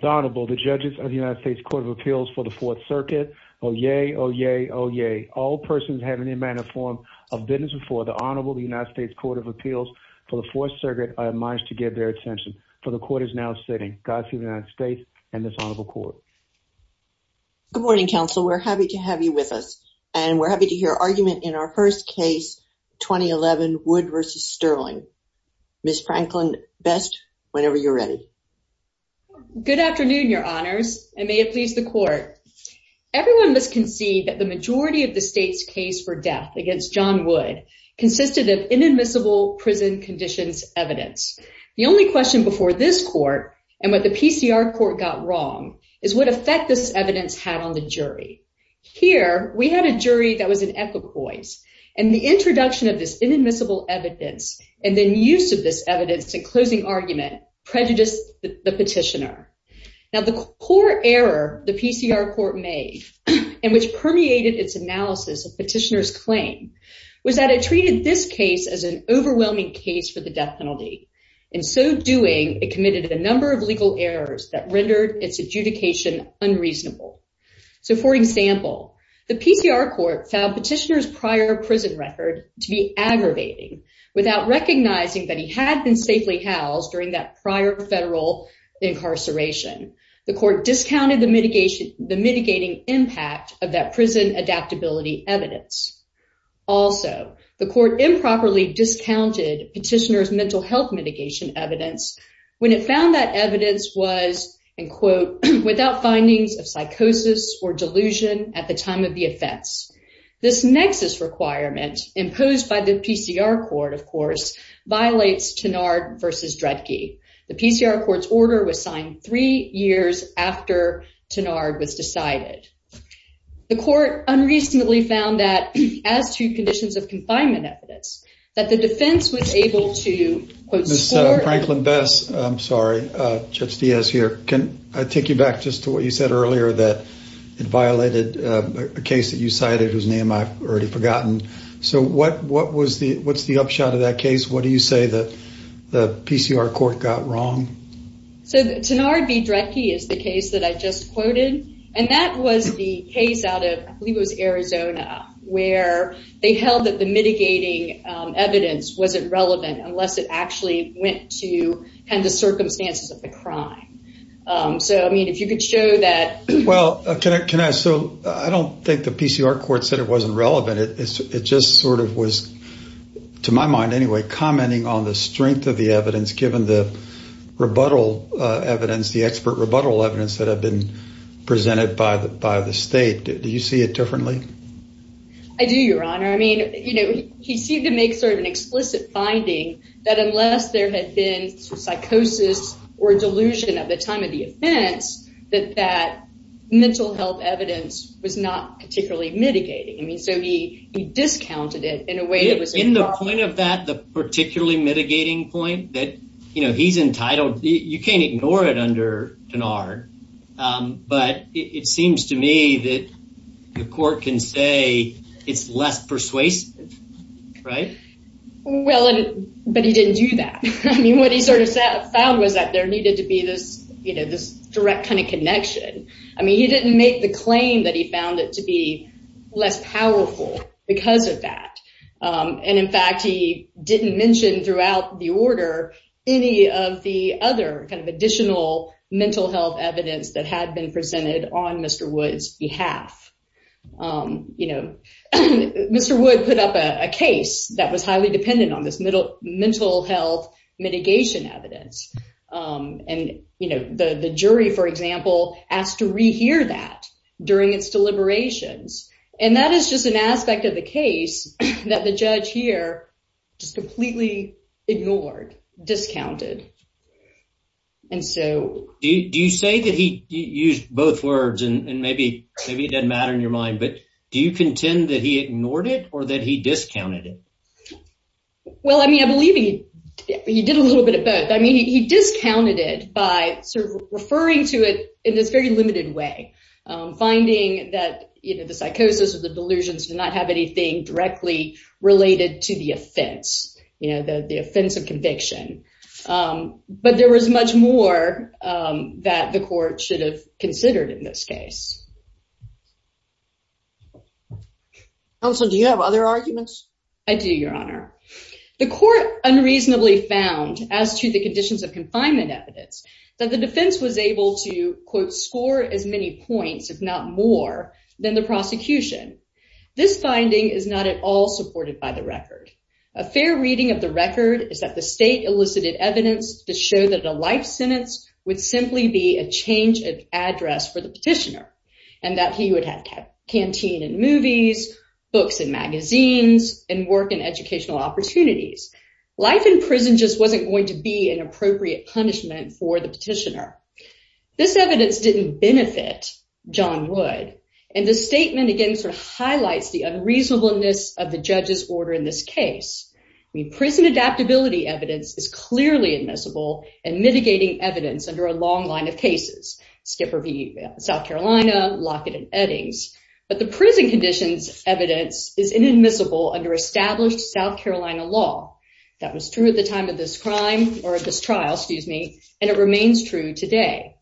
The Honorable, the judges of the United States Court of Appeals for the Fourth Circuit. Oh yay, oh yay, oh yay. All persons having any manner of form of business before the Honorable the United States Court of Appeals for the Fourth Circuit are admonished to give their attention for the court is now sitting. Godspeed to the United States and this Honorable Court. Good morning counsel. We're happy to have you with us and we're happy to hear argument in our first case, 2011 Wood v. Stirling. Ms. Franklin, best whenever you're ready. Good afternoon your honors and may it please the court. Everyone must concede that the majority of the state's case for death against John Wood consisted of inadmissible prison conditions evidence. The only question before this court and what the PCR court got wrong is what effect this evidence had on the jury. Here we had a jury that was in equipoise and the introduction of this inadmissible evidence and then use of this evidence in closing argument prejudiced the petitioner. Now the core error the PCR court made and which permeated its analysis of petitioners claim was that it treated this case as an overwhelming case for the death penalty. In so doing it committed a number of legal errors that rendered its adjudication unreasonable. So for example the PCR court found petitioners prior prison record to be aggravating without recognizing that he had been safely housed during that prior federal incarceration. The court discounted the mitigation the mitigating impact of that prison adaptability evidence. Also the court improperly discounted petitioners mental health mitigation evidence when it found that evidence was in quote without findings of psychosis or delusion at the time of the offense. This violates Tenard versus Dredge. The PCR court's order was signed three years after Tenard was decided. The court unreasonably found that as to conditions of confinement evidence that the defense was able to quote Franklin Bess I'm sorry Judge Diaz here can I take you back just to what you said earlier that it violated a case that you cited whose name I've already forgotten. So what what was the what's the upshot of that case what do you say that the PCR court got wrong? So Tenard v. Dredge is the case that I just quoted and that was the case out of I believe it was Arizona where they held that the mitigating evidence wasn't relevant unless it actually went to kind of circumstances of the crime. So I mean if you could show that. Well can I so I don't think the PCR court said it just sort of was to my mind anyway commenting on the strength of the evidence given the rebuttal evidence the expert rebuttal evidence that have been presented by the by the state. Do you see it differently? I do your honor I mean you know he seemed to make sort of an explicit finding that unless there had been psychosis or delusion at the time of the offense that that mental health evidence was not particularly mitigating. I mean so he discounted it in a way. In the point of that the particularly mitigating point that you know he's entitled you can't ignore it under Tenard but it seems to me that the court can say it's less persuasive right? Well but he didn't do that. I mean what he sort of found was that there needed to be this you know this direct kind of claim that he found it to be less powerful because of that. And in fact he didn't mention throughout the order any of the other kind of additional mental health evidence that had been presented on Mr. Woods behalf. You know Mr. Wood put up a case that was highly dependent on this middle mental health mitigation evidence. And you know the the jury for example asked to rehear that during its deliberations. And that is just an aspect of the case that the judge here just completely ignored, discounted. And so do you say that he used both words and maybe maybe it doesn't matter in your mind but do you contend that he ignored it or that he discounted it? Well I mean I believe he did a little bit of both. I mean he discounted it by sort of referring to it in this very limited way. Finding that you know the psychosis or the delusions did not have anything directly related to the offense. You know the the offense of conviction. But there was much more that the court should have considered in this case. Counsel do you have other arguments? I do your honor. The court unreasonably found as to the conditions of confinement evidence that the defense was able to quote score as many points if not more than the prosecution. This finding is not at all supported by the record. A fair reading of the record is that the state elicited evidence to show that a life sentence would simply be a change of address for the petitioner. And that he would have canteen and movies, books and magazines, and work and educational opportunities. Life in prison just wasn't going to be an appropriate punishment for the petitioner. This evidence didn't benefit John Wood. And the statement again sort of highlights the unreasonableness of the judge's order in this case. I mean prison adaptability evidence is clearly admissible and mitigating evidence under a long line of cases. Skipper v. South Carolina, Lockett and Eddings. But the prison conditions evidence is inadmissible under established South Carolina law. That was true at the time of this crime or at this trial excuse me and it remains true today.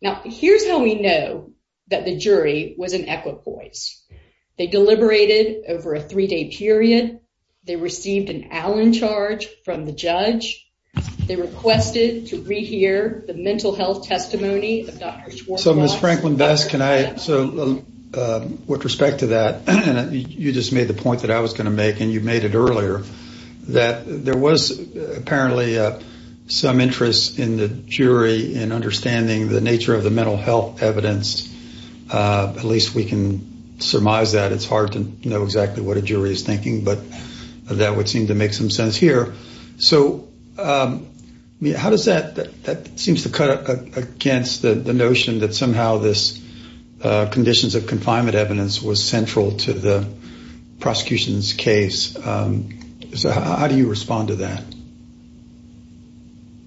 Now here's how we know that the jury was an equite voice. They deliberated over a three-day period. They received an Allen charge from the mental health testimony. So Ms. Franklin-Best, with respect to that, you just made the point that I was going to make and you made it earlier. That there was apparently some interest in the jury in understanding the nature of the mental health evidence. At least we can surmise that. It's hard to know exactly what a jury is thinking but that would seem to make some sense here. So how does that seems to cut against the notion that somehow this conditions of confinement evidence was central to the prosecution's case. So how do you respond to that?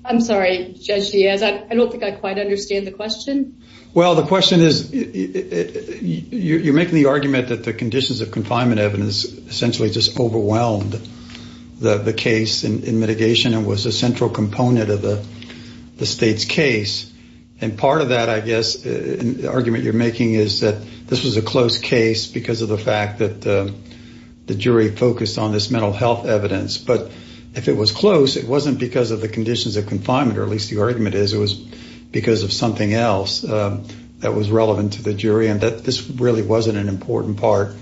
I'm sorry Judge Diaz, I don't think I quite understand the question. Well the question is you're making the argument that the conditions of confinement evidence essentially just overwhelmed the case in mitigation and was a central component of the state's case. And part of that, I guess, the argument you're making is that this was a close case because of the fact that the jury focused on this mental health evidence. But if it was close it wasn't because of the conditions of confinement or at least the argument is it was because of something else that was relevant to the jury and that this really wasn't an important part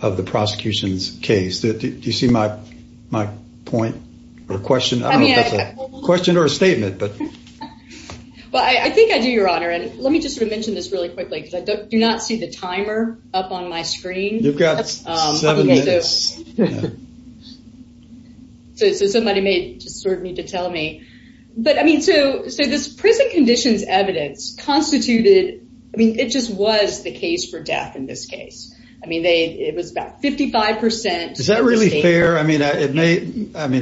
of the prosecution's case. Do you see my point or question? Question or a statement. But well I think I do your honor and let me just mention this really quickly because I do not see the timer up on my screen. You've got seven minutes. So somebody may just sort of need to tell me. But I mean so so this prison conditions evidence constituted I mean it just was the case for death in this case. I mean they it was about 55 percent. Is that really fair? I mean it may I mean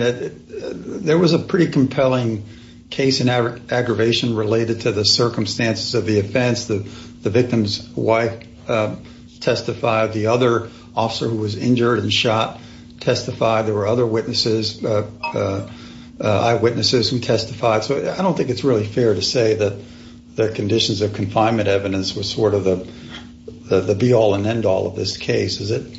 there was a pretty compelling case in our aggravation related to the circumstances of the offense. The victim's wife testified. The other officer who was injured and shot testified. There were other witnesses, eyewitnesses who testified. So I don't think it's really fair to say that the conditions of confinement evidence was sort of the be all and end all of this case. Is it?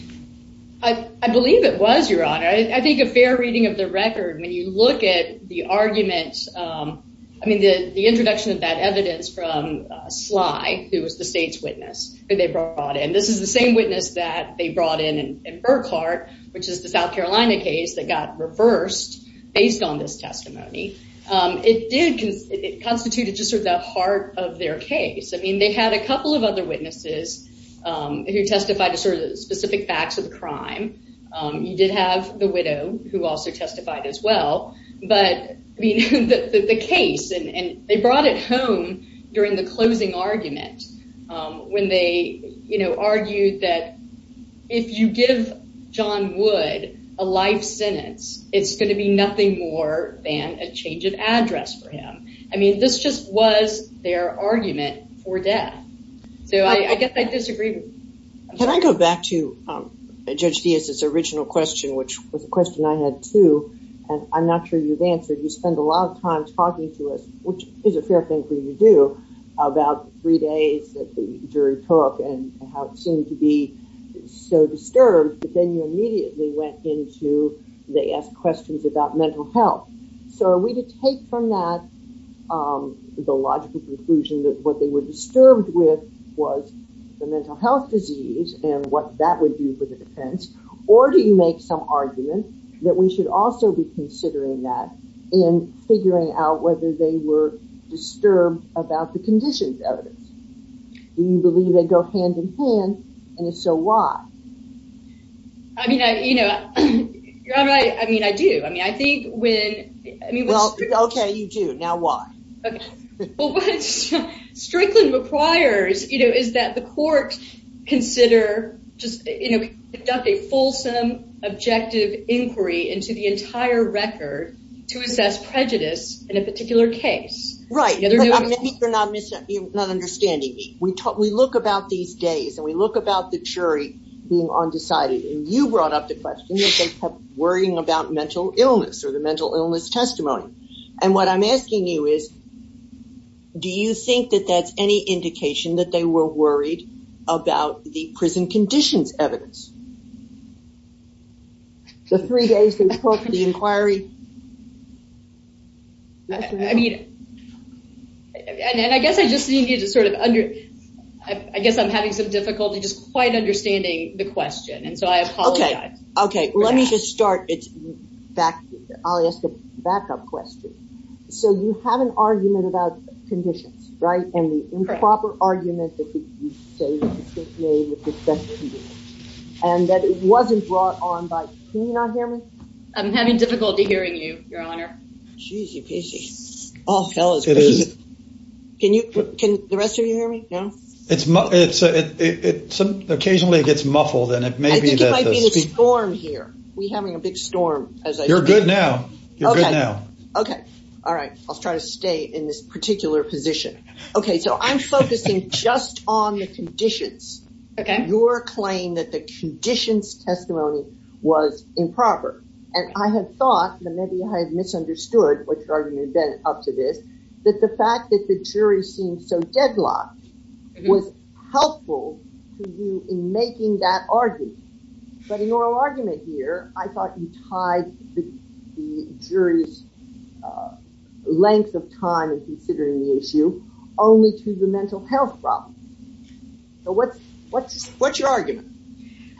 I believe it was your honor. I think a fair reading of the record when you look at the arguments I mean the the introduction of that evidence from Sly who was the state's witness that they brought in. This is the same witness that they brought in in Burkhart which is the South Carolina case that got reversed based on this testimony. It did because it constituted just sort of the heart of their case. I mean they had a couple of other witnesses who testified to sort of specific facts of the crime. You did have the widow who also testified as well. But the case and they brought it home during the closing argument when they you know argued that if you give John Wood a life sentence it's going to be nothing more than a change of address for him. I mean this just was their argument for death. So I get that disagreement. Can I go back to Judge Diaz's original question which was a question I had too and I'm not sure you've answered. You spend a lot of time talking to us which is a fair thing for you to do about three days that the jury took and how it seemed to be so disturbed but then you immediately went into they asked questions about mental health. So are we to take from that the logical conclusion that what they were disturbed with was the mental health disease and what that would do for the defense or do you make some argument that we should also be considering that in figuring out whether they were disturbed about the conditions evidence. Do you believe they go hand-in-hand and so why? I mean I you know you're right I mean I do I mean I think when I mean well okay you do now what. Well what Strickland requires you know is that the court consider just you know conduct a fulsome objective inquiry into the entire record to assess prejudice in a particular case. Right you're not misunderstanding me. We talk we look about these days and we look about the jury being undecided and you brought up the question that they kept worrying about mental illness or the mental illness testimony and what I'm asking you is do you think that that's any indication that they were worried about the prison conditions evidence? The three days they took the inquiry? I mean and I guess I just need you to sort of under I guess I'm having some difficulty just quite understanding the question and so I apologize. Okay okay let me just start it's back I'll ask a backup question. So you have an argument about conditions right and the improper argument and that it wasn't brought on by, can you not hear me? I'm having difficulty hearing you your occasionally it gets muffled and it may be the storm here we having a big storm. You're good now. Okay okay all right I'll try to stay in this particular position. Okay so I'm focusing just on the conditions. Okay. Your claim that the conditions testimony was improper and I have thought that maybe I have misunderstood what your argument then up to this that the fact that the jury seemed so deadlocked was helpful to you in making that argument but in your argument here I thought you tied the jury's length of time and considering the issue only to the mental health problem. So what's what's what's your argument?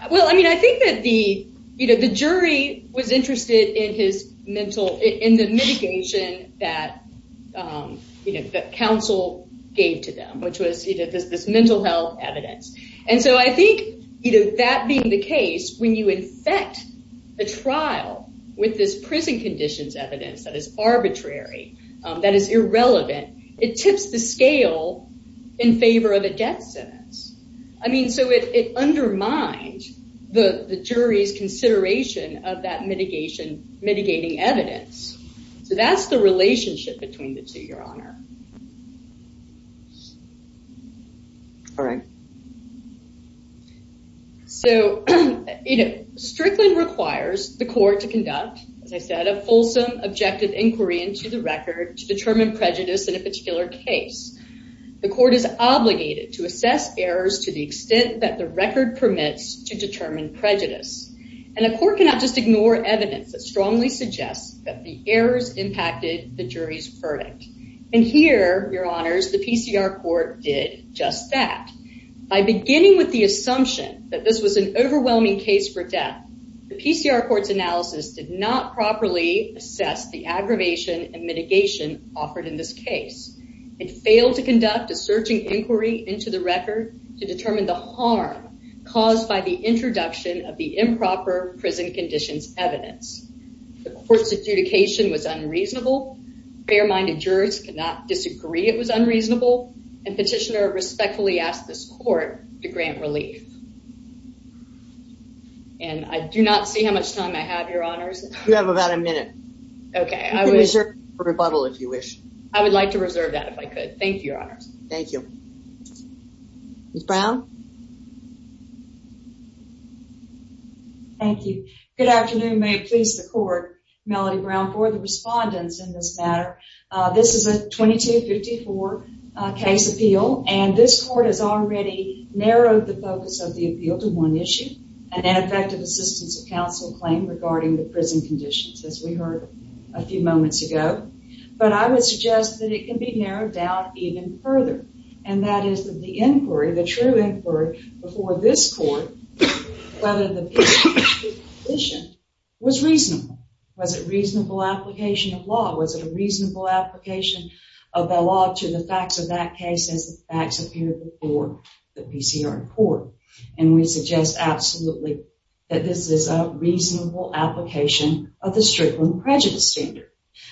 Well I mean I think that the you know the jury was interested in his mental in the mitigation that you know that counsel gave to them which was you know this this mental health evidence and so I think you know that being the case when you infect the trial with this prison conditions evidence that is arbitrary that is irrelevant it tips the scale in favor of a death sentence. I mean so it undermined the the jury's consideration of that mitigation mitigating evidence. So that's the relationship between the two your honor. All right. So you know Strickland requires the court to conduct as I said a fulsome objective inquiry into the record to determine prejudice in a particular case. The court is obligated to assess errors to the extent that the record permits to determine prejudice and a court cannot just ignore evidence that strongly suggests that the errors impacted the jury's verdict. And here your honors the PCR court did just that. By beginning with the assumption that this was an overwhelming case for death the PCR court's analysis did not properly assess the aggravation and mitigation offered in this case. It failed to conduct a searching inquiry into the record to determine the harm caused by the introduction of the improper prison conditions evidence. The court's adjudication was unreasonable. Fair-minded jurors could not disagree it was unreasonable and petitioner respectfully asked this court to grant relief. And I do not see how much time I have your honors. You have about a minute. Okay. I would reserve a rebuttal if you wish. I would like to reserve that if I Thank you. Ms. Brown. Thank you. Good afternoon may it please the court. Melody Brown for the respondents in this matter. This is a 2254 case appeal and this court has already narrowed the focus of the appeal to one issue an ineffective assistance of counsel claim regarding the prison conditions as we heard a few moments ago. But I would suggest that it can be narrowed down even further and that is that the inquiry the true inquiry before this court was reasonable. Was it a reasonable application of law? Was it a reasonable application of the law to the facts of that case as the facts appear before the PCR court? And we suggest absolutely that this is a reasonable application of the Strickland prejudice standard.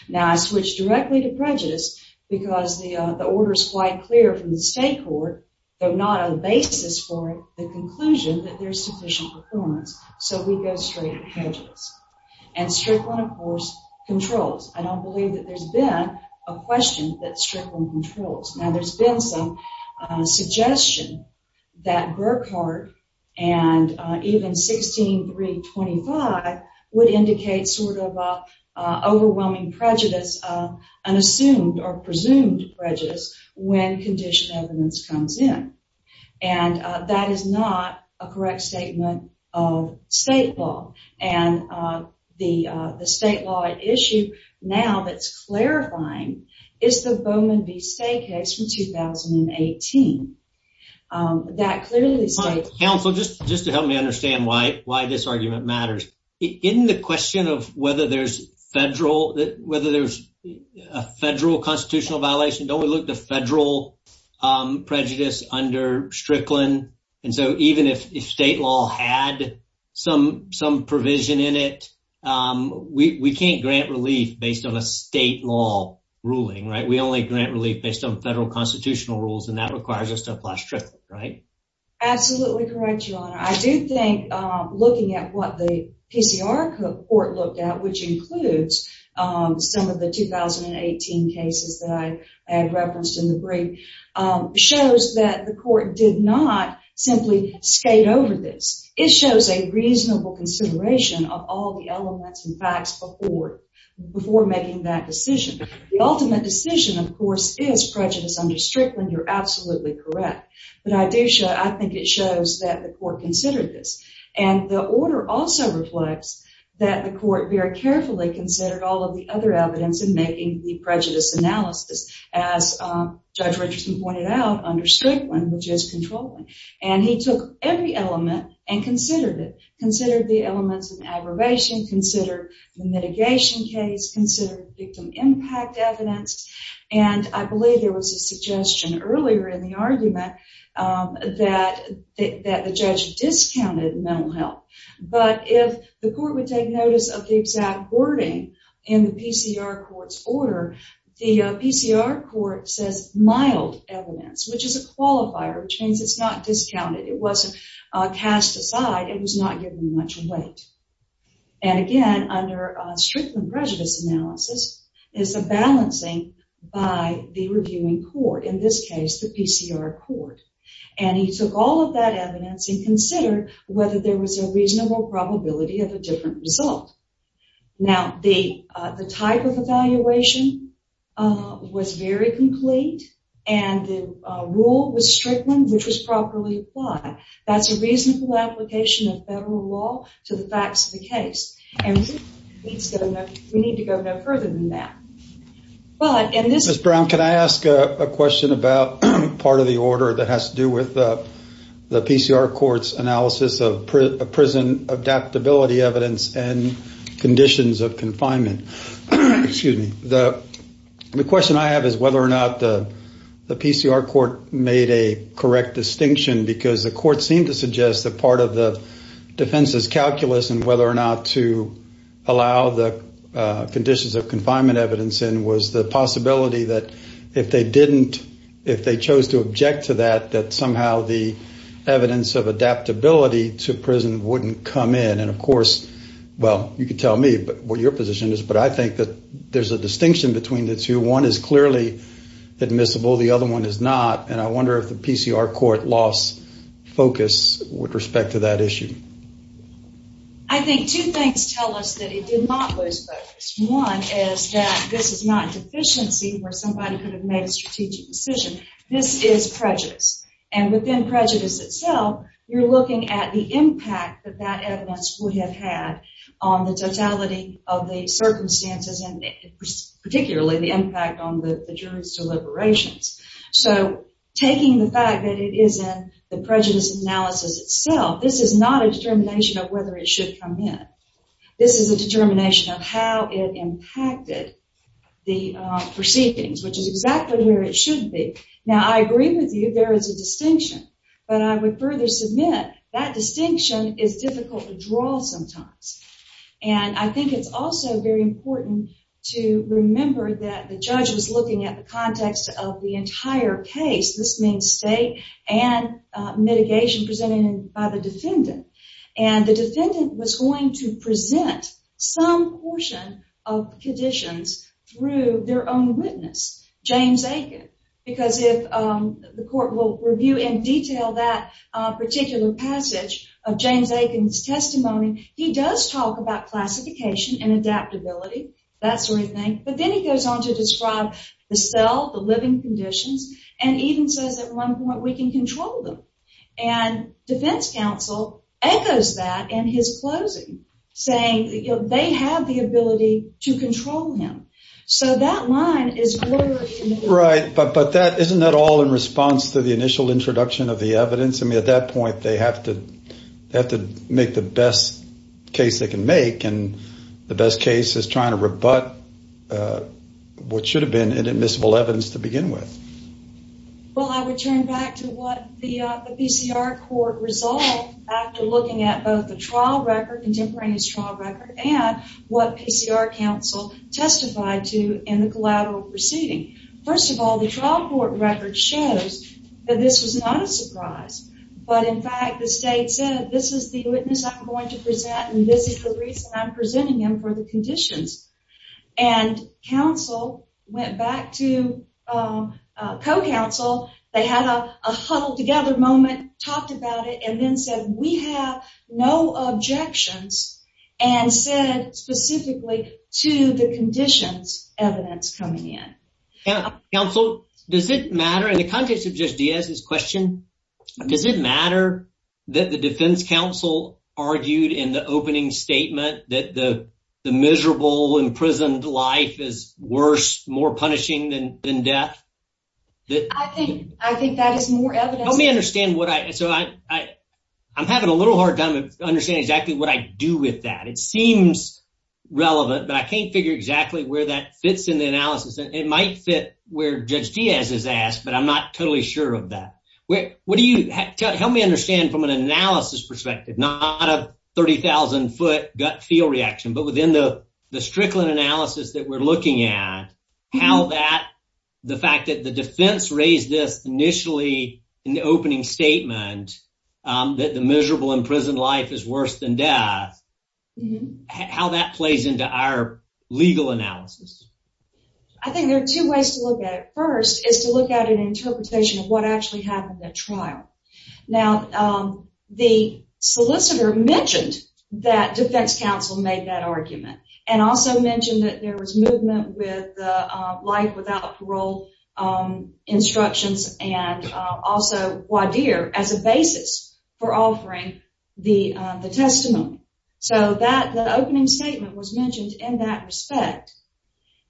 Now as which directly to prejudice because the order is quite clear from the state court but not a basis for the conclusion that there's sufficient performance. So we go straight prejudice. And Strickland of course controls. I don't believe that there's been a question that Strickland controls. Now there's been some suggestion that Burkhart and even 16325 would indicate sort of overwhelming prejudice unassumed or presumed prejudice when condition evidence comes in. And that is not a correct statement of state law. And the the state law issue now that's clarifying is the Bowman v. Say case from 2018. That clearly state counsel just just to help me understand why why this argument matters. In the question of whether there's federal whether there's a federal constitutional violation don't we look the federal prejudice under Strickland? And so even if state law had some some provision in it we can't grant relief based on a state law ruling right? We only grant relief based on federal constitutional rules and that requires us to apply Strickland right? Absolutely correct your court looked at which includes some of the 2018 cases that I had referenced in the brief shows that the court did not simply skate over this. It shows a reasonable consideration of all the elements and facts before before making that decision. The ultimate decision of course is prejudice under Strickland. You're absolutely correct. But I do show I think it shows that the court considered this. And the order also reflects that the court very carefully considered all of the other evidence in making the prejudice analysis as Judge Richardson pointed out under Strickland which is controlling. And he took every element and considered it. Considered the elements in aggravation, considered the mitigation case, considered victim impact evidence. And I believe there was a discounted mental health. But if the court would take notice of the exact wording in the PCR court's order the PCR court says mild evidence which is a qualifier which means it's not discounted. It wasn't cast aside. It was not given much weight. And again under Strickland prejudice analysis is the balancing by the reviewing court. In this case the PCR court. And he took all of that evidence and considered whether there was a reasonable probability of a different result. Now the the type of evaluation was very complete and the rule was Strickland which was properly applied. That's a reasonable application of federal law to the facts of the case. And we need to go no further than that. But and this is... Ms. Brown can I ask a question about part of the order that has to do with the PCR court's analysis of prison adaptability evidence and conditions of confinement. Excuse me. The question I have is whether or not the PCR court made a correct distinction because the court seemed to suggest that part of the defense's calculus and whether or not to allow the conditions of confinement evidence in was the possibility that if they didn't, if they didn't do that, that somehow the evidence of adaptability to prison wouldn't come in. And of course well you could tell me but what your position is but I think that there's a distinction between the two. One is clearly admissible. The other one is not. And I wonder if the PCR court lost focus with respect to that issue. I think two things tell us that it did not lose focus. One is that this is not and within prejudice itself you're looking at the impact that that evidence would have had on the totality of the circumstances and particularly the impact on the jury's deliberations. So taking the fact that it is in the prejudice analysis itself, this is not a determination of whether it should come in. This is a determination of how it impacted the proceedings which is exactly where it should be. Now I agree with you there is a distinction but I would further submit that distinction is difficult to draw sometimes and I think it's also very important to remember that the judge was looking at the context of the entire case. This means state and mitigation presented by the defendant and the defendant was going to present some portion of conditions through their own witness, James Aiken. Because if the court will review in detail that particular passage of James Aiken's testimony, he does talk about classification and adaptability, that sort of thing, but then he goes on to describe the cell, the living conditions, and even says at one point we can control them. And defense counsel echoes that in his closing saying they have the ability to control him. So that line is blurry. Right, but isn't that all in response to the initial introduction of the evidence? I mean at that point they have to have to make the best case they can make and the best case is trying to rebut what should have been an admissible evidence to begin with. Well I would turn back to what the BCR court resolved after looking at both the trial record, contemporaneous trial record, and what BCR counsel testified to in the collateral proceeding. First of all, the trial court record shows that this was not a surprise, but in fact the state said this is the witness I'm going to present and this is the reason I'm presenting him for the conditions. And counsel went back to co-counsel. They had a huddle together moment, talked about it, and then said we have no objections and said specifically to the conditions evidence coming in. Counsel, does it matter, in the context of Judge Diaz's question, does it matter that the defense counsel argued in the opening statement that the the miserable imprisoned life is worse, more punishing than death? I think that is more evidence. Help me understand what I, so I I'm having a little hard time to understand exactly what I do with that. It seems relevant but I can't figure exactly where that fits in the analysis. It might fit where Judge Diaz has asked but I'm not totally sure of that. What do you, help me understand from an analysis perspective, not a 30,000 foot gut feel reaction, but within the the Strickland analysis that we're looking at, how that the fact that the defense raised this initially in the opening statement that the miserable imprisoned life is worse than death, how that plays into our legal analysis? I think there are two ways to look at it. First is to look at an interpretation of what actually happened at trial. Now the solicitor mentioned that defense counsel made that argument and also mentioned that there was movement with the life without parole instructions and also Wadir as a basis for offering the the testimony. So that the opening statement was mentioned in that respect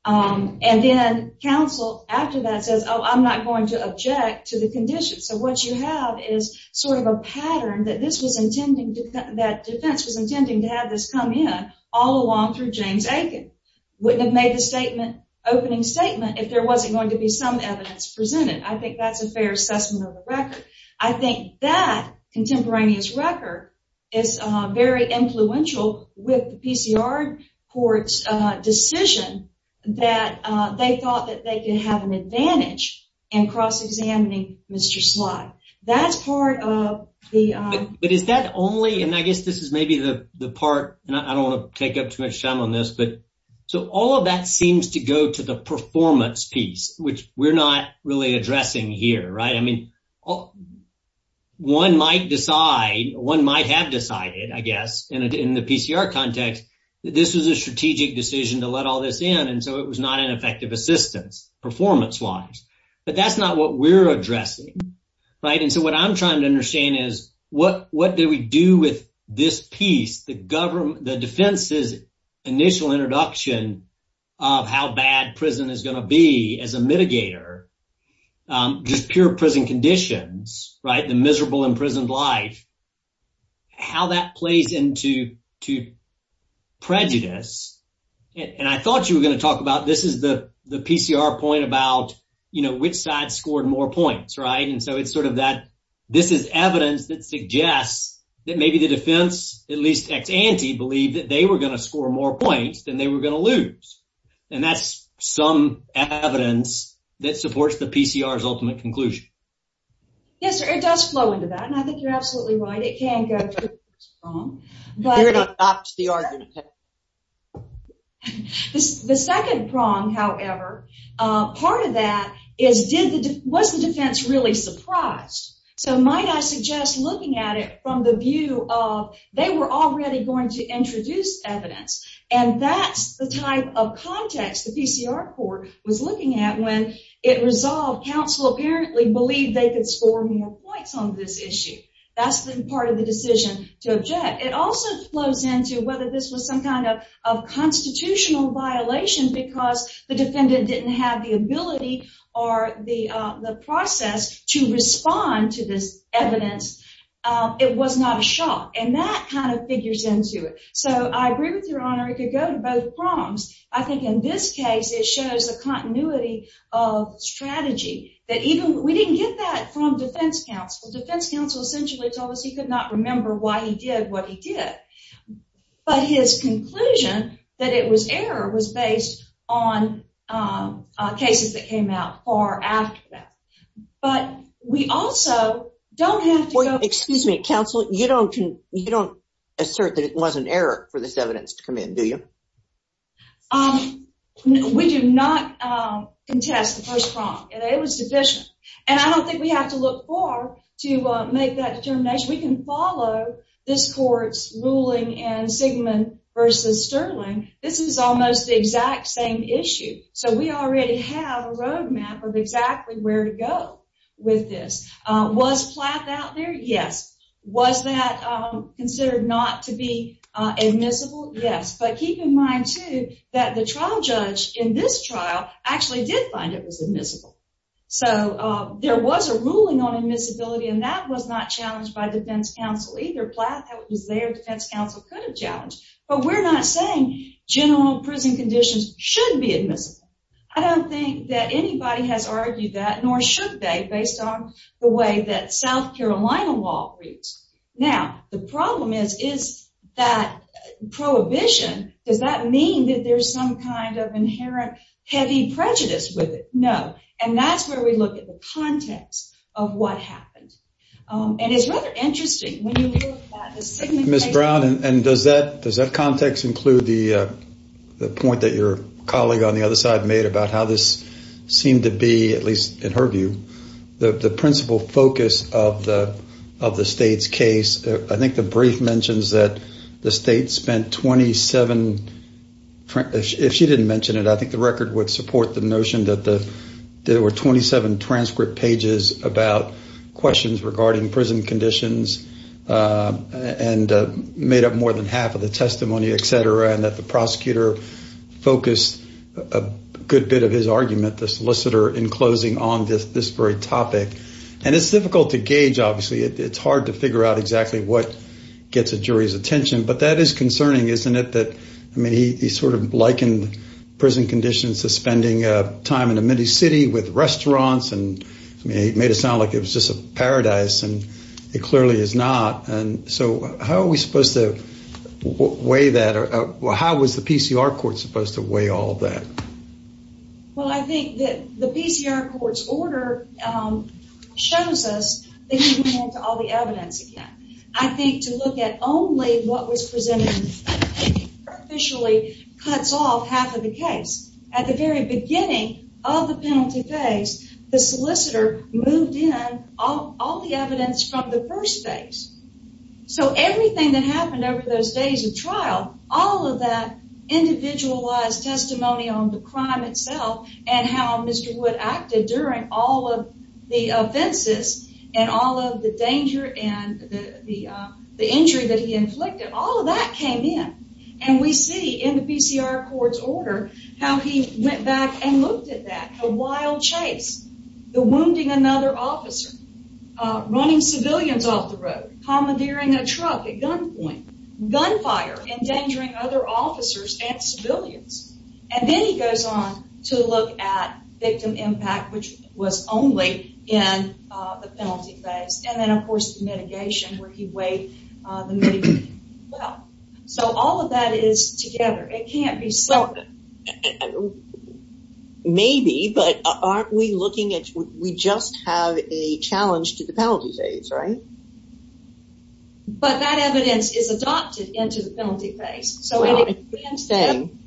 and then counsel after that says oh I'm not going to object to the condition. So what you have is sort of a pattern that this was intending to, that defense was intending to have this come in all along through James Aiken. Wouldn't have made the statement, opening statement, if there wasn't going to be some evidence presented. I think that's a fair assessment of the record. I think that contemporaneous record is very influential with the PCR court's decision that they thought that they could have an advantage in cross examining Mr. Slott. That's part of the... But is that only, and I guess this is maybe the part, and I don't want to take up too much time on this, but so all of that seems to go to the performance piece, which we're not really addressing here, right? I mean one might decide, one might have decided I guess in the PCR context, this was a strategic decision to let all this in and so it was not an effective assistance performance wise. But that's not what we're addressing, right? And so what I'm trying to understand is what what did we do with this piece, the government, the defense's initial introduction of how bad prison is going to be as a mitigator, just pure prison conditions, right? The miserable imprisoned life, how that plays into prejudice. And I thought you were going to talk about this is the the PCR point about, you know, which side scored more points, right? And so it's sort of that this is evidence that suggests that maybe the defense, at least ex-ante, believed that they were going to score more points than they were going to lose. And that's some evidence that supports the PCR's ultimate conclusion. Yes, sir, it does flow into that and I think you're absolutely right. It can go to the second prong, however, part of that is did the, was the defense really surprised? So might I suggest looking at it from the view of they were already going to introduce evidence and that's the type of context the PCR court was looking at when it resolved counsel apparently believed they could score more points on this issue. That's the part of the decision to object. It also flows into whether this was some kind of constitutional violation because the defendant didn't have the ability or the process to this evidence. It was not a shock and that kind of figures into it. So I agree with your honor, it could go to both prongs. I think in this case it shows the continuity of strategy that even we didn't get that from defense counsel. Defense counsel essentially told us he could not remember why he did what he did, but his conclusion that it was error was based on cases that came out far after that. But we also don't have to go... Excuse me counsel, you don't, you don't assert that it was an error for this evidence to come in, do you? We do not contest the first prong. It was sufficient and I don't think we have to look far to make that determination. We can follow this court's ruling in Sigman versus Sterling. This is almost the exact same issue. So we already have a roadmap of exactly where to go with this. Was Plath out there? Yes. Was that considered not to be admissible? Yes. But keep in mind too that the trial judge in this trial actually did find it was admissible. So there was a ruling on admissibility and that was not challenged by defense counsel either. Plath was there, defense counsel could have challenged. But we're not saying general prison conditions should be admissible. I don't think that anybody has argued that nor should they based on the way that South Carolina law reads. Now the problem is, is that prohibition, does that mean that there's some kind of inherent heavy prejudice with it? No. And that's where we look at the context of what happened. And it's rather interesting. Ms. Brown and does that, does that context include the point that your colleague on the other side made about how this seemed to be, at least in her view, the principal focus of the of the state's case? I think the brief mentions that the state spent 27, if she didn't mention it, I think the record would support the notion that there were 27 transcript pages about questions regarding prison conditions and made up more than half of the testimony, etc. And that the prosecutor focused a good bit of his argument, the solicitor, in closing on this this very topic. And it's difficult to gauge, obviously. It's hard to figure out exactly what gets a jury's attention. But that is concerning, isn't it? That, I mean, he sort of likened prison conditions to spending time in a mini-city with restaurants. And he made it sound like it was just a paradise. And it clearly is supposed to weigh all that. Well, I think that the PCR court's order shows us that he went into all the evidence again. I think to look at only what was presented officially cuts off half of the case. At the very beginning of the penalty phase, the solicitor moved in all the evidence from the first phase. So everything that individualized testimony on the crime itself and how Mr. Wood acted during all of the offenses and all of the danger and the injury that he inflicted, all of that came in. And we see in the PCR court's order how he went back and looked at that. A wild chase, the wounding another officer, running civilians off the road, commandeering a truck at gunpoint, gunfire, endangering other officers and civilians. And then he goes on to look at victim impact, which was only in the penalty phase. And then, of course, the mitigation where he weighed the mitigation as well. So all of that is together. It can't be separate. Maybe, but aren't we looking at, we just have a challenge to the penalty phase, right? But that thing,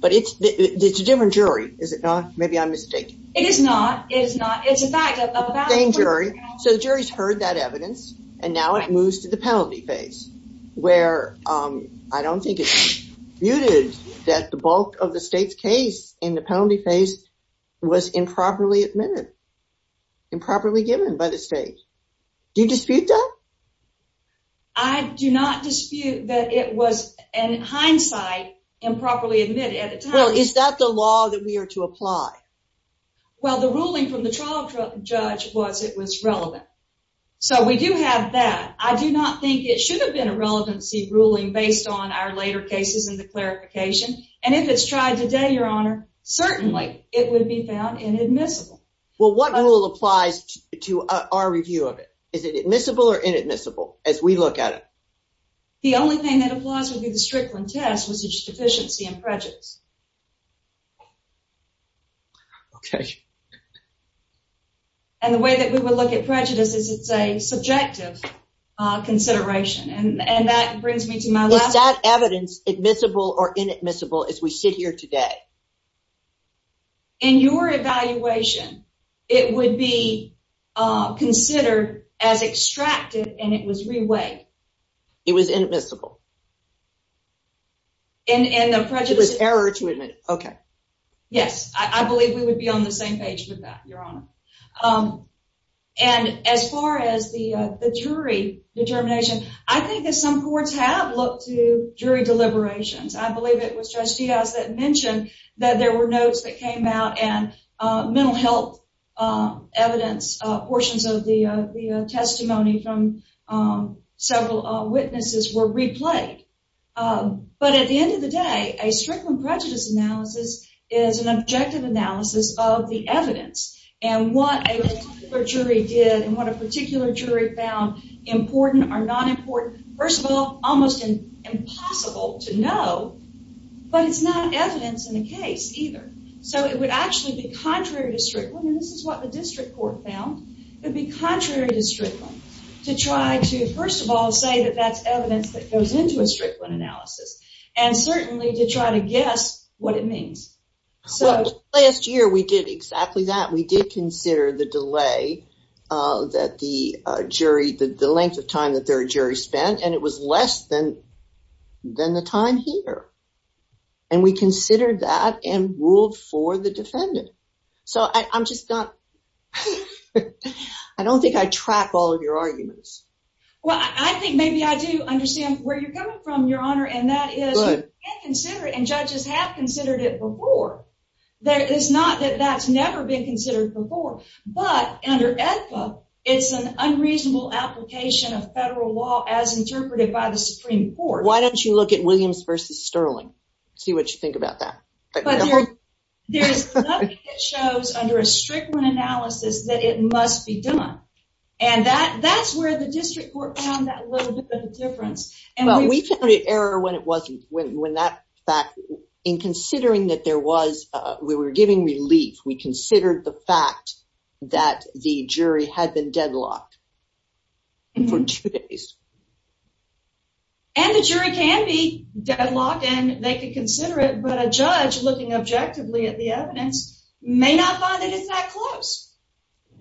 but it's a different jury. Is it not? Maybe I'm mistaken. It is not. It is not. It's a fact. So the jury's heard that evidence and now it moves to the penalty phase where I don't think it's muted that the bulk of the state's case in the penalty phase was improperly admitted, improperly given by the state. Do you dispute that? I do not dispute that it was in hindsight improperly admitted at the time. Well, is that the law that we are to apply? Well, the ruling from the trial judge was it was relevant. So we do have that. I do not think it should have been a relevancy ruling based on our later cases in the clarification. And if it's tried today, Your Honor, certainly it would be found inadmissible. Well, what rule applies to our review of it? Is it admissible or inadmissible as we look at it? The only thing that applies to the Strickland test was its deficiency and prejudice. Okay. And the way that we would look at prejudice is it's a subjective consideration. And that brings me to my last... Is that evidence admissible or inadmissible as we sit here today? In your evaluation, it would be considered as extracted and it was reweighed. It was inadmissible. In the prejudice... It was error to admit. Okay. Yes. I believe we would be on the same page with that, Your Honor. And as far as the jury determination, I think that some courts have looked to jury deliberations. I believe it was Judge Diaz that mentioned that there were notes that came out and mental health evidence portions of the testimony from several witnesses were replayed. But at the end of the day, a Strickland prejudice analysis is an objective analysis of the evidence and what a particular jury did and what a particular jury found important or not important. First of all, almost impossible to know, but it's not evidence in the case either. So, it would actually be contrary to Strickland, and this is what the district court found, would be contrary to Strickland to try to, first of all, say that that's evidence that goes into a Strickland analysis and certainly to try to guess what it means. Well, last year we did exactly that. We did consider the delay that the jury... The length of time that their jury spent and it was less than the time here. And we considered that and ruled for the defendant. So, I'm just not... I don't think I track all of your arguments. Well, I think maybe I do understand where you're coming from, Your Honor, and that is you can consider it and judges have considered it before. It's not that that's never been considered before, but under AEDPA, it's an unreasonable application of federal law as interpreted by the Supreme Court. Why don't you look at Williams versus Sterling, see what you think about that. But there's nothing that shows under a Strickland analysis that it must be done. And that's where the district court found that little bit of a difference. Well, we found an error when it wasn't, when that fact... In considering that there was... We were giving relief. We considered the fact that the jury had been deadlocked for two days. And the jury can be deadlocked and they could consider it, but a judge looking objectively at the evidence may not find that it's that close.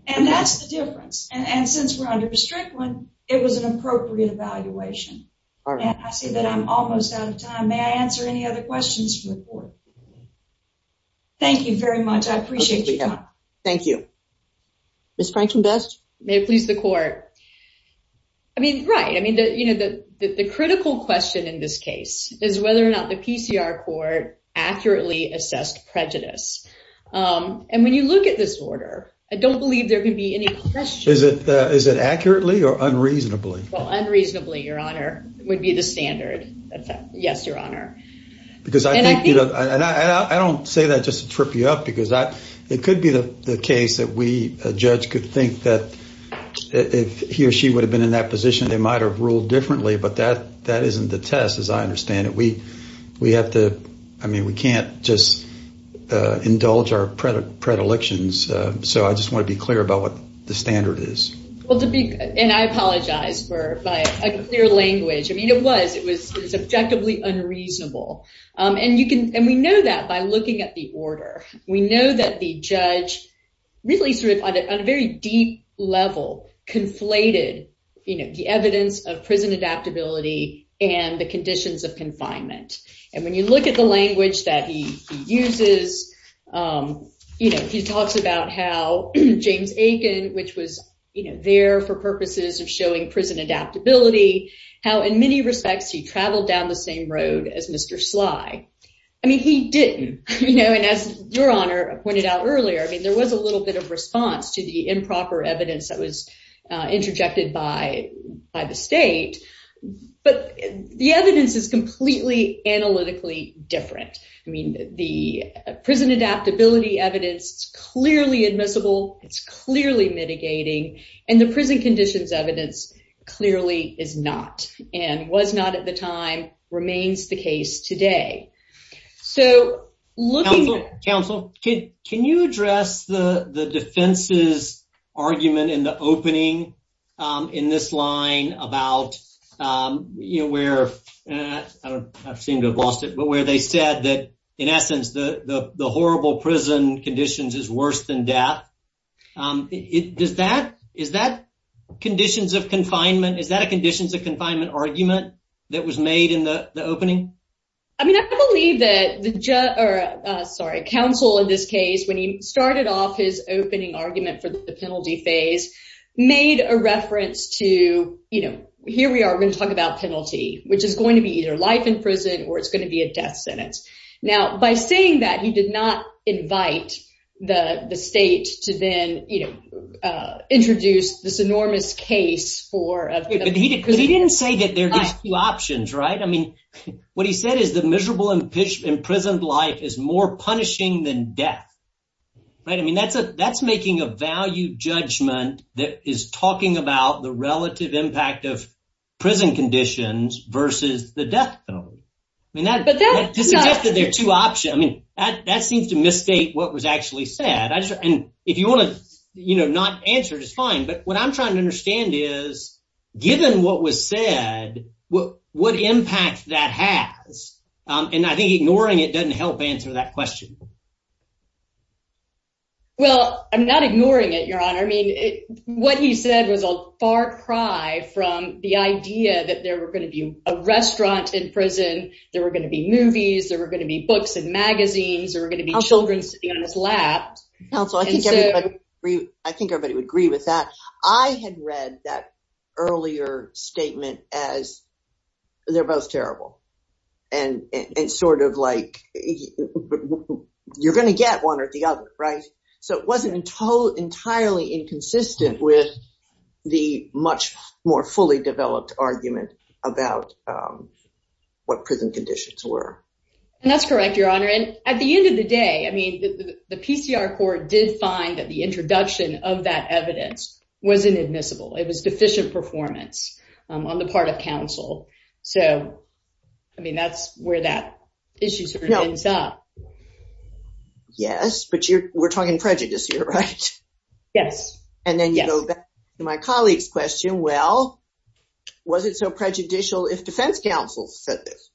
And that's the difference. And since we're under Strickland, it was an appropriate evaluation. I see that I'm almost out of time. May I answer any other questions from the court? Thank you very much. I appreciate your time. Thank you. Ms. Frankenbest. May it please the court. I mean, right. I mean, the critical question in this case is whether or not the PCR court accurately assessed prejudice. And when you look at this order, I don't believe there can be any question. Is it accurately or unreasonably? Well, unreasonably, your honor, would be the standard. Yes, your honor. Because I don't say that just to trip you up because it could be the case that we, a judge, could think that if he or she would have been in that position, they might've ruled differently. But that isn't the test, as I understand it. We have to... I mean, we can't just indulge our predilections. So I just want to be clear about what the standard is. Well, to be... And I apologize for a clear language. I mean, it was. It was subjectively unreasonable. And we know that by looking at the order. We know that the judge really sort of, on a very deep level, conflated the evidence of prison adaptability and the conditions of confinement. And when you look at the language that he uses, he talks about how James Aiken, which was there for purposes of showing prison adaptability, how in many respects he traveled down the same road as Mr. Sly. I mean, he didn't. And as your honor pointed out earlier, I mean, there was a little bit of response to the improper evidence that was interjected by the state. But the evidence is completely analytically different. I mean, the prison adaptability evidence is clearly admissible. It's clearly mitigating. And the prison conditions evidence clearly is not, and was not at the time, remains the case today. So looking... Counsel, counsel, can you address the defense's argument in the opening in this line about, you know, where... I don't... I seem to have lost it. But where they said that, in essence, the horrible prison conditions is worse than death, is that conditions of confinement? Is that a conditions of confinement argument that was made in the opening? I mean, I believe that the judge, or sorry, counsel in this case, when he started off his opening argument for the penalty phase, made a reference to, you know, here we are, we're going to talk about penalty, which is going to be either life in prison or it's going to be a death sentence. Now, by saying that, he did not invite the state to then, you know, introduce this enormous case for... But he didn't say that there's two options, right? I mean, what he said is the miserable imprisoned life is more punishing than death, right? I mean, that's making a value judgment that is talking about the relative impact of death penalty. I mean, that suggested there are two options. I mean, that seems to misstate what was actually said. And if you want to, you know, not answer, it's fine. But what I'm trying to understand is, given what was said, what impact that has? And I think ignoring it doesn't help answer that question. Well, I'm not ignoring it, Your Honor. I mean, what he said was a far cry from the idea that there were going to be a restaurant in prison, there were going to be movies, there were going to be books and magazines, there were going to be children sitting on this lap. Counsel, I think everybody would agree with that. I had read that earlier statement as they're both terrible. And it's sort of like, you're going to get one or the other, right? So it wasn't entirely inconsistent with the much more fully developed argument about what prison conditions were. And that's correct, Your Honor. And at the end of the day, I mean, the PCR court did find that the introduction of that evidence wasn't admissible. It was deficient performance on the part of counsel. So, I mean, that's where that issue ends up. Yes, but we're talking prejudice here, right? Yes. And then you go back to my colleague's question. Well, was it so prejudicial if defense counsel said this?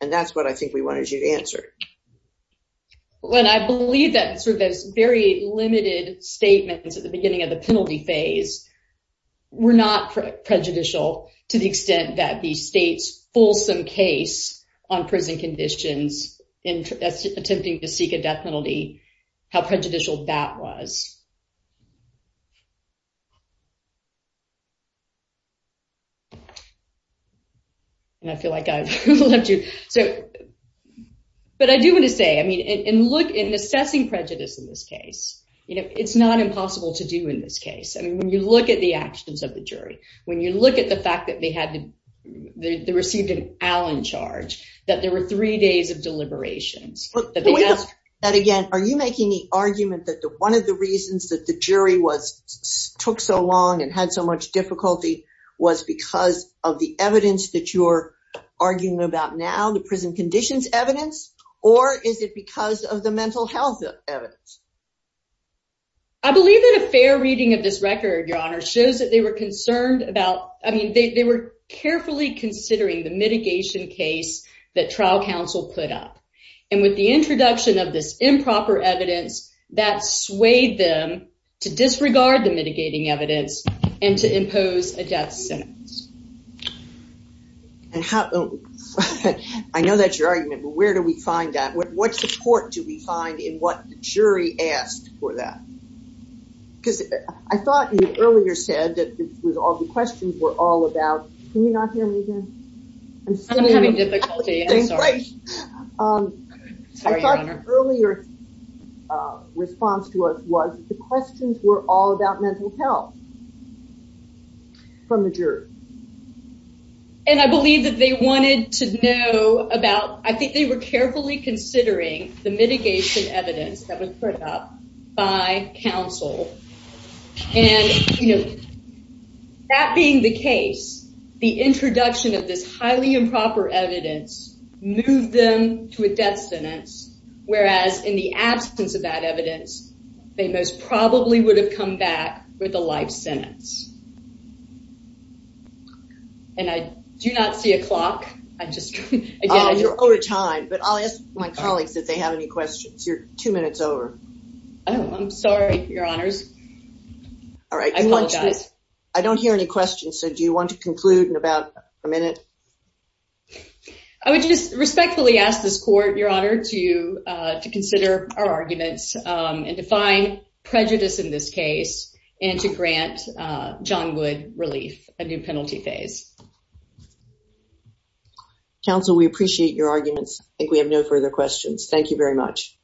And that's what I think we wanted you to answer. Well, and I believe that sort of those very limited statements at the beginning of the penalty phase were not prejudicial to the extent that the state's fulsome case on prison conditions in attempting to seek a death penalty, how prejudicial that was. And I feel like I've left you. But I do want to say, I mean, in assessing prejudice in this case, you know, it's not impossible to do in this case. I mean, when you look at the actions of the jury, when you look at the fact that they received an Allen charge, that there were three days deliberations. Are you making the argument that one of the reasons that the jury took so long and had so much difficulty was because of the evidence that you're arguing about now, the prison conditions evidence? Or is it because of the mental health evidence? I believe that a fair reading of this record, Your Honor, shows that they were concerned about, I mean, they were carefully considering the mitigation case that trial counsel put up. And with the introduction of this improper evidence, that swayed them to disregard the mitigating evidence and to impose a death sentence. And I know that's your argument, but where do we find that? What support do we find in what the jury asked for that? Because I thought you earlier said that this was all the questions were all about. Can you not hear me again? I'm having difficulty. I'm sorry. I thought the earlier response to us was the questions were all about mental health from the jury. And I believe that they wanted to know about, I think they were that being the case, the introduction of this highly improper evidence moved them to a death sentence. Whereas in the absence of that evidence, they most probably would have come back with a life sentence. And I do not see a clock. I just, again, you're over time, but I'll ask my colleagues if they have any questions. You're two minutes over. Oh, I'm sorry, Your Honors. All right. I don't hear any questions. So do you want to conclude in about a minute? I would just respectfully ask this court, Your Honor, to consider our arguments and define prejudice in this case and to grant John Wood relief, a new penalty phase. Counsel, we appreciate your arguments. I think we have no further questions. Thank you very much.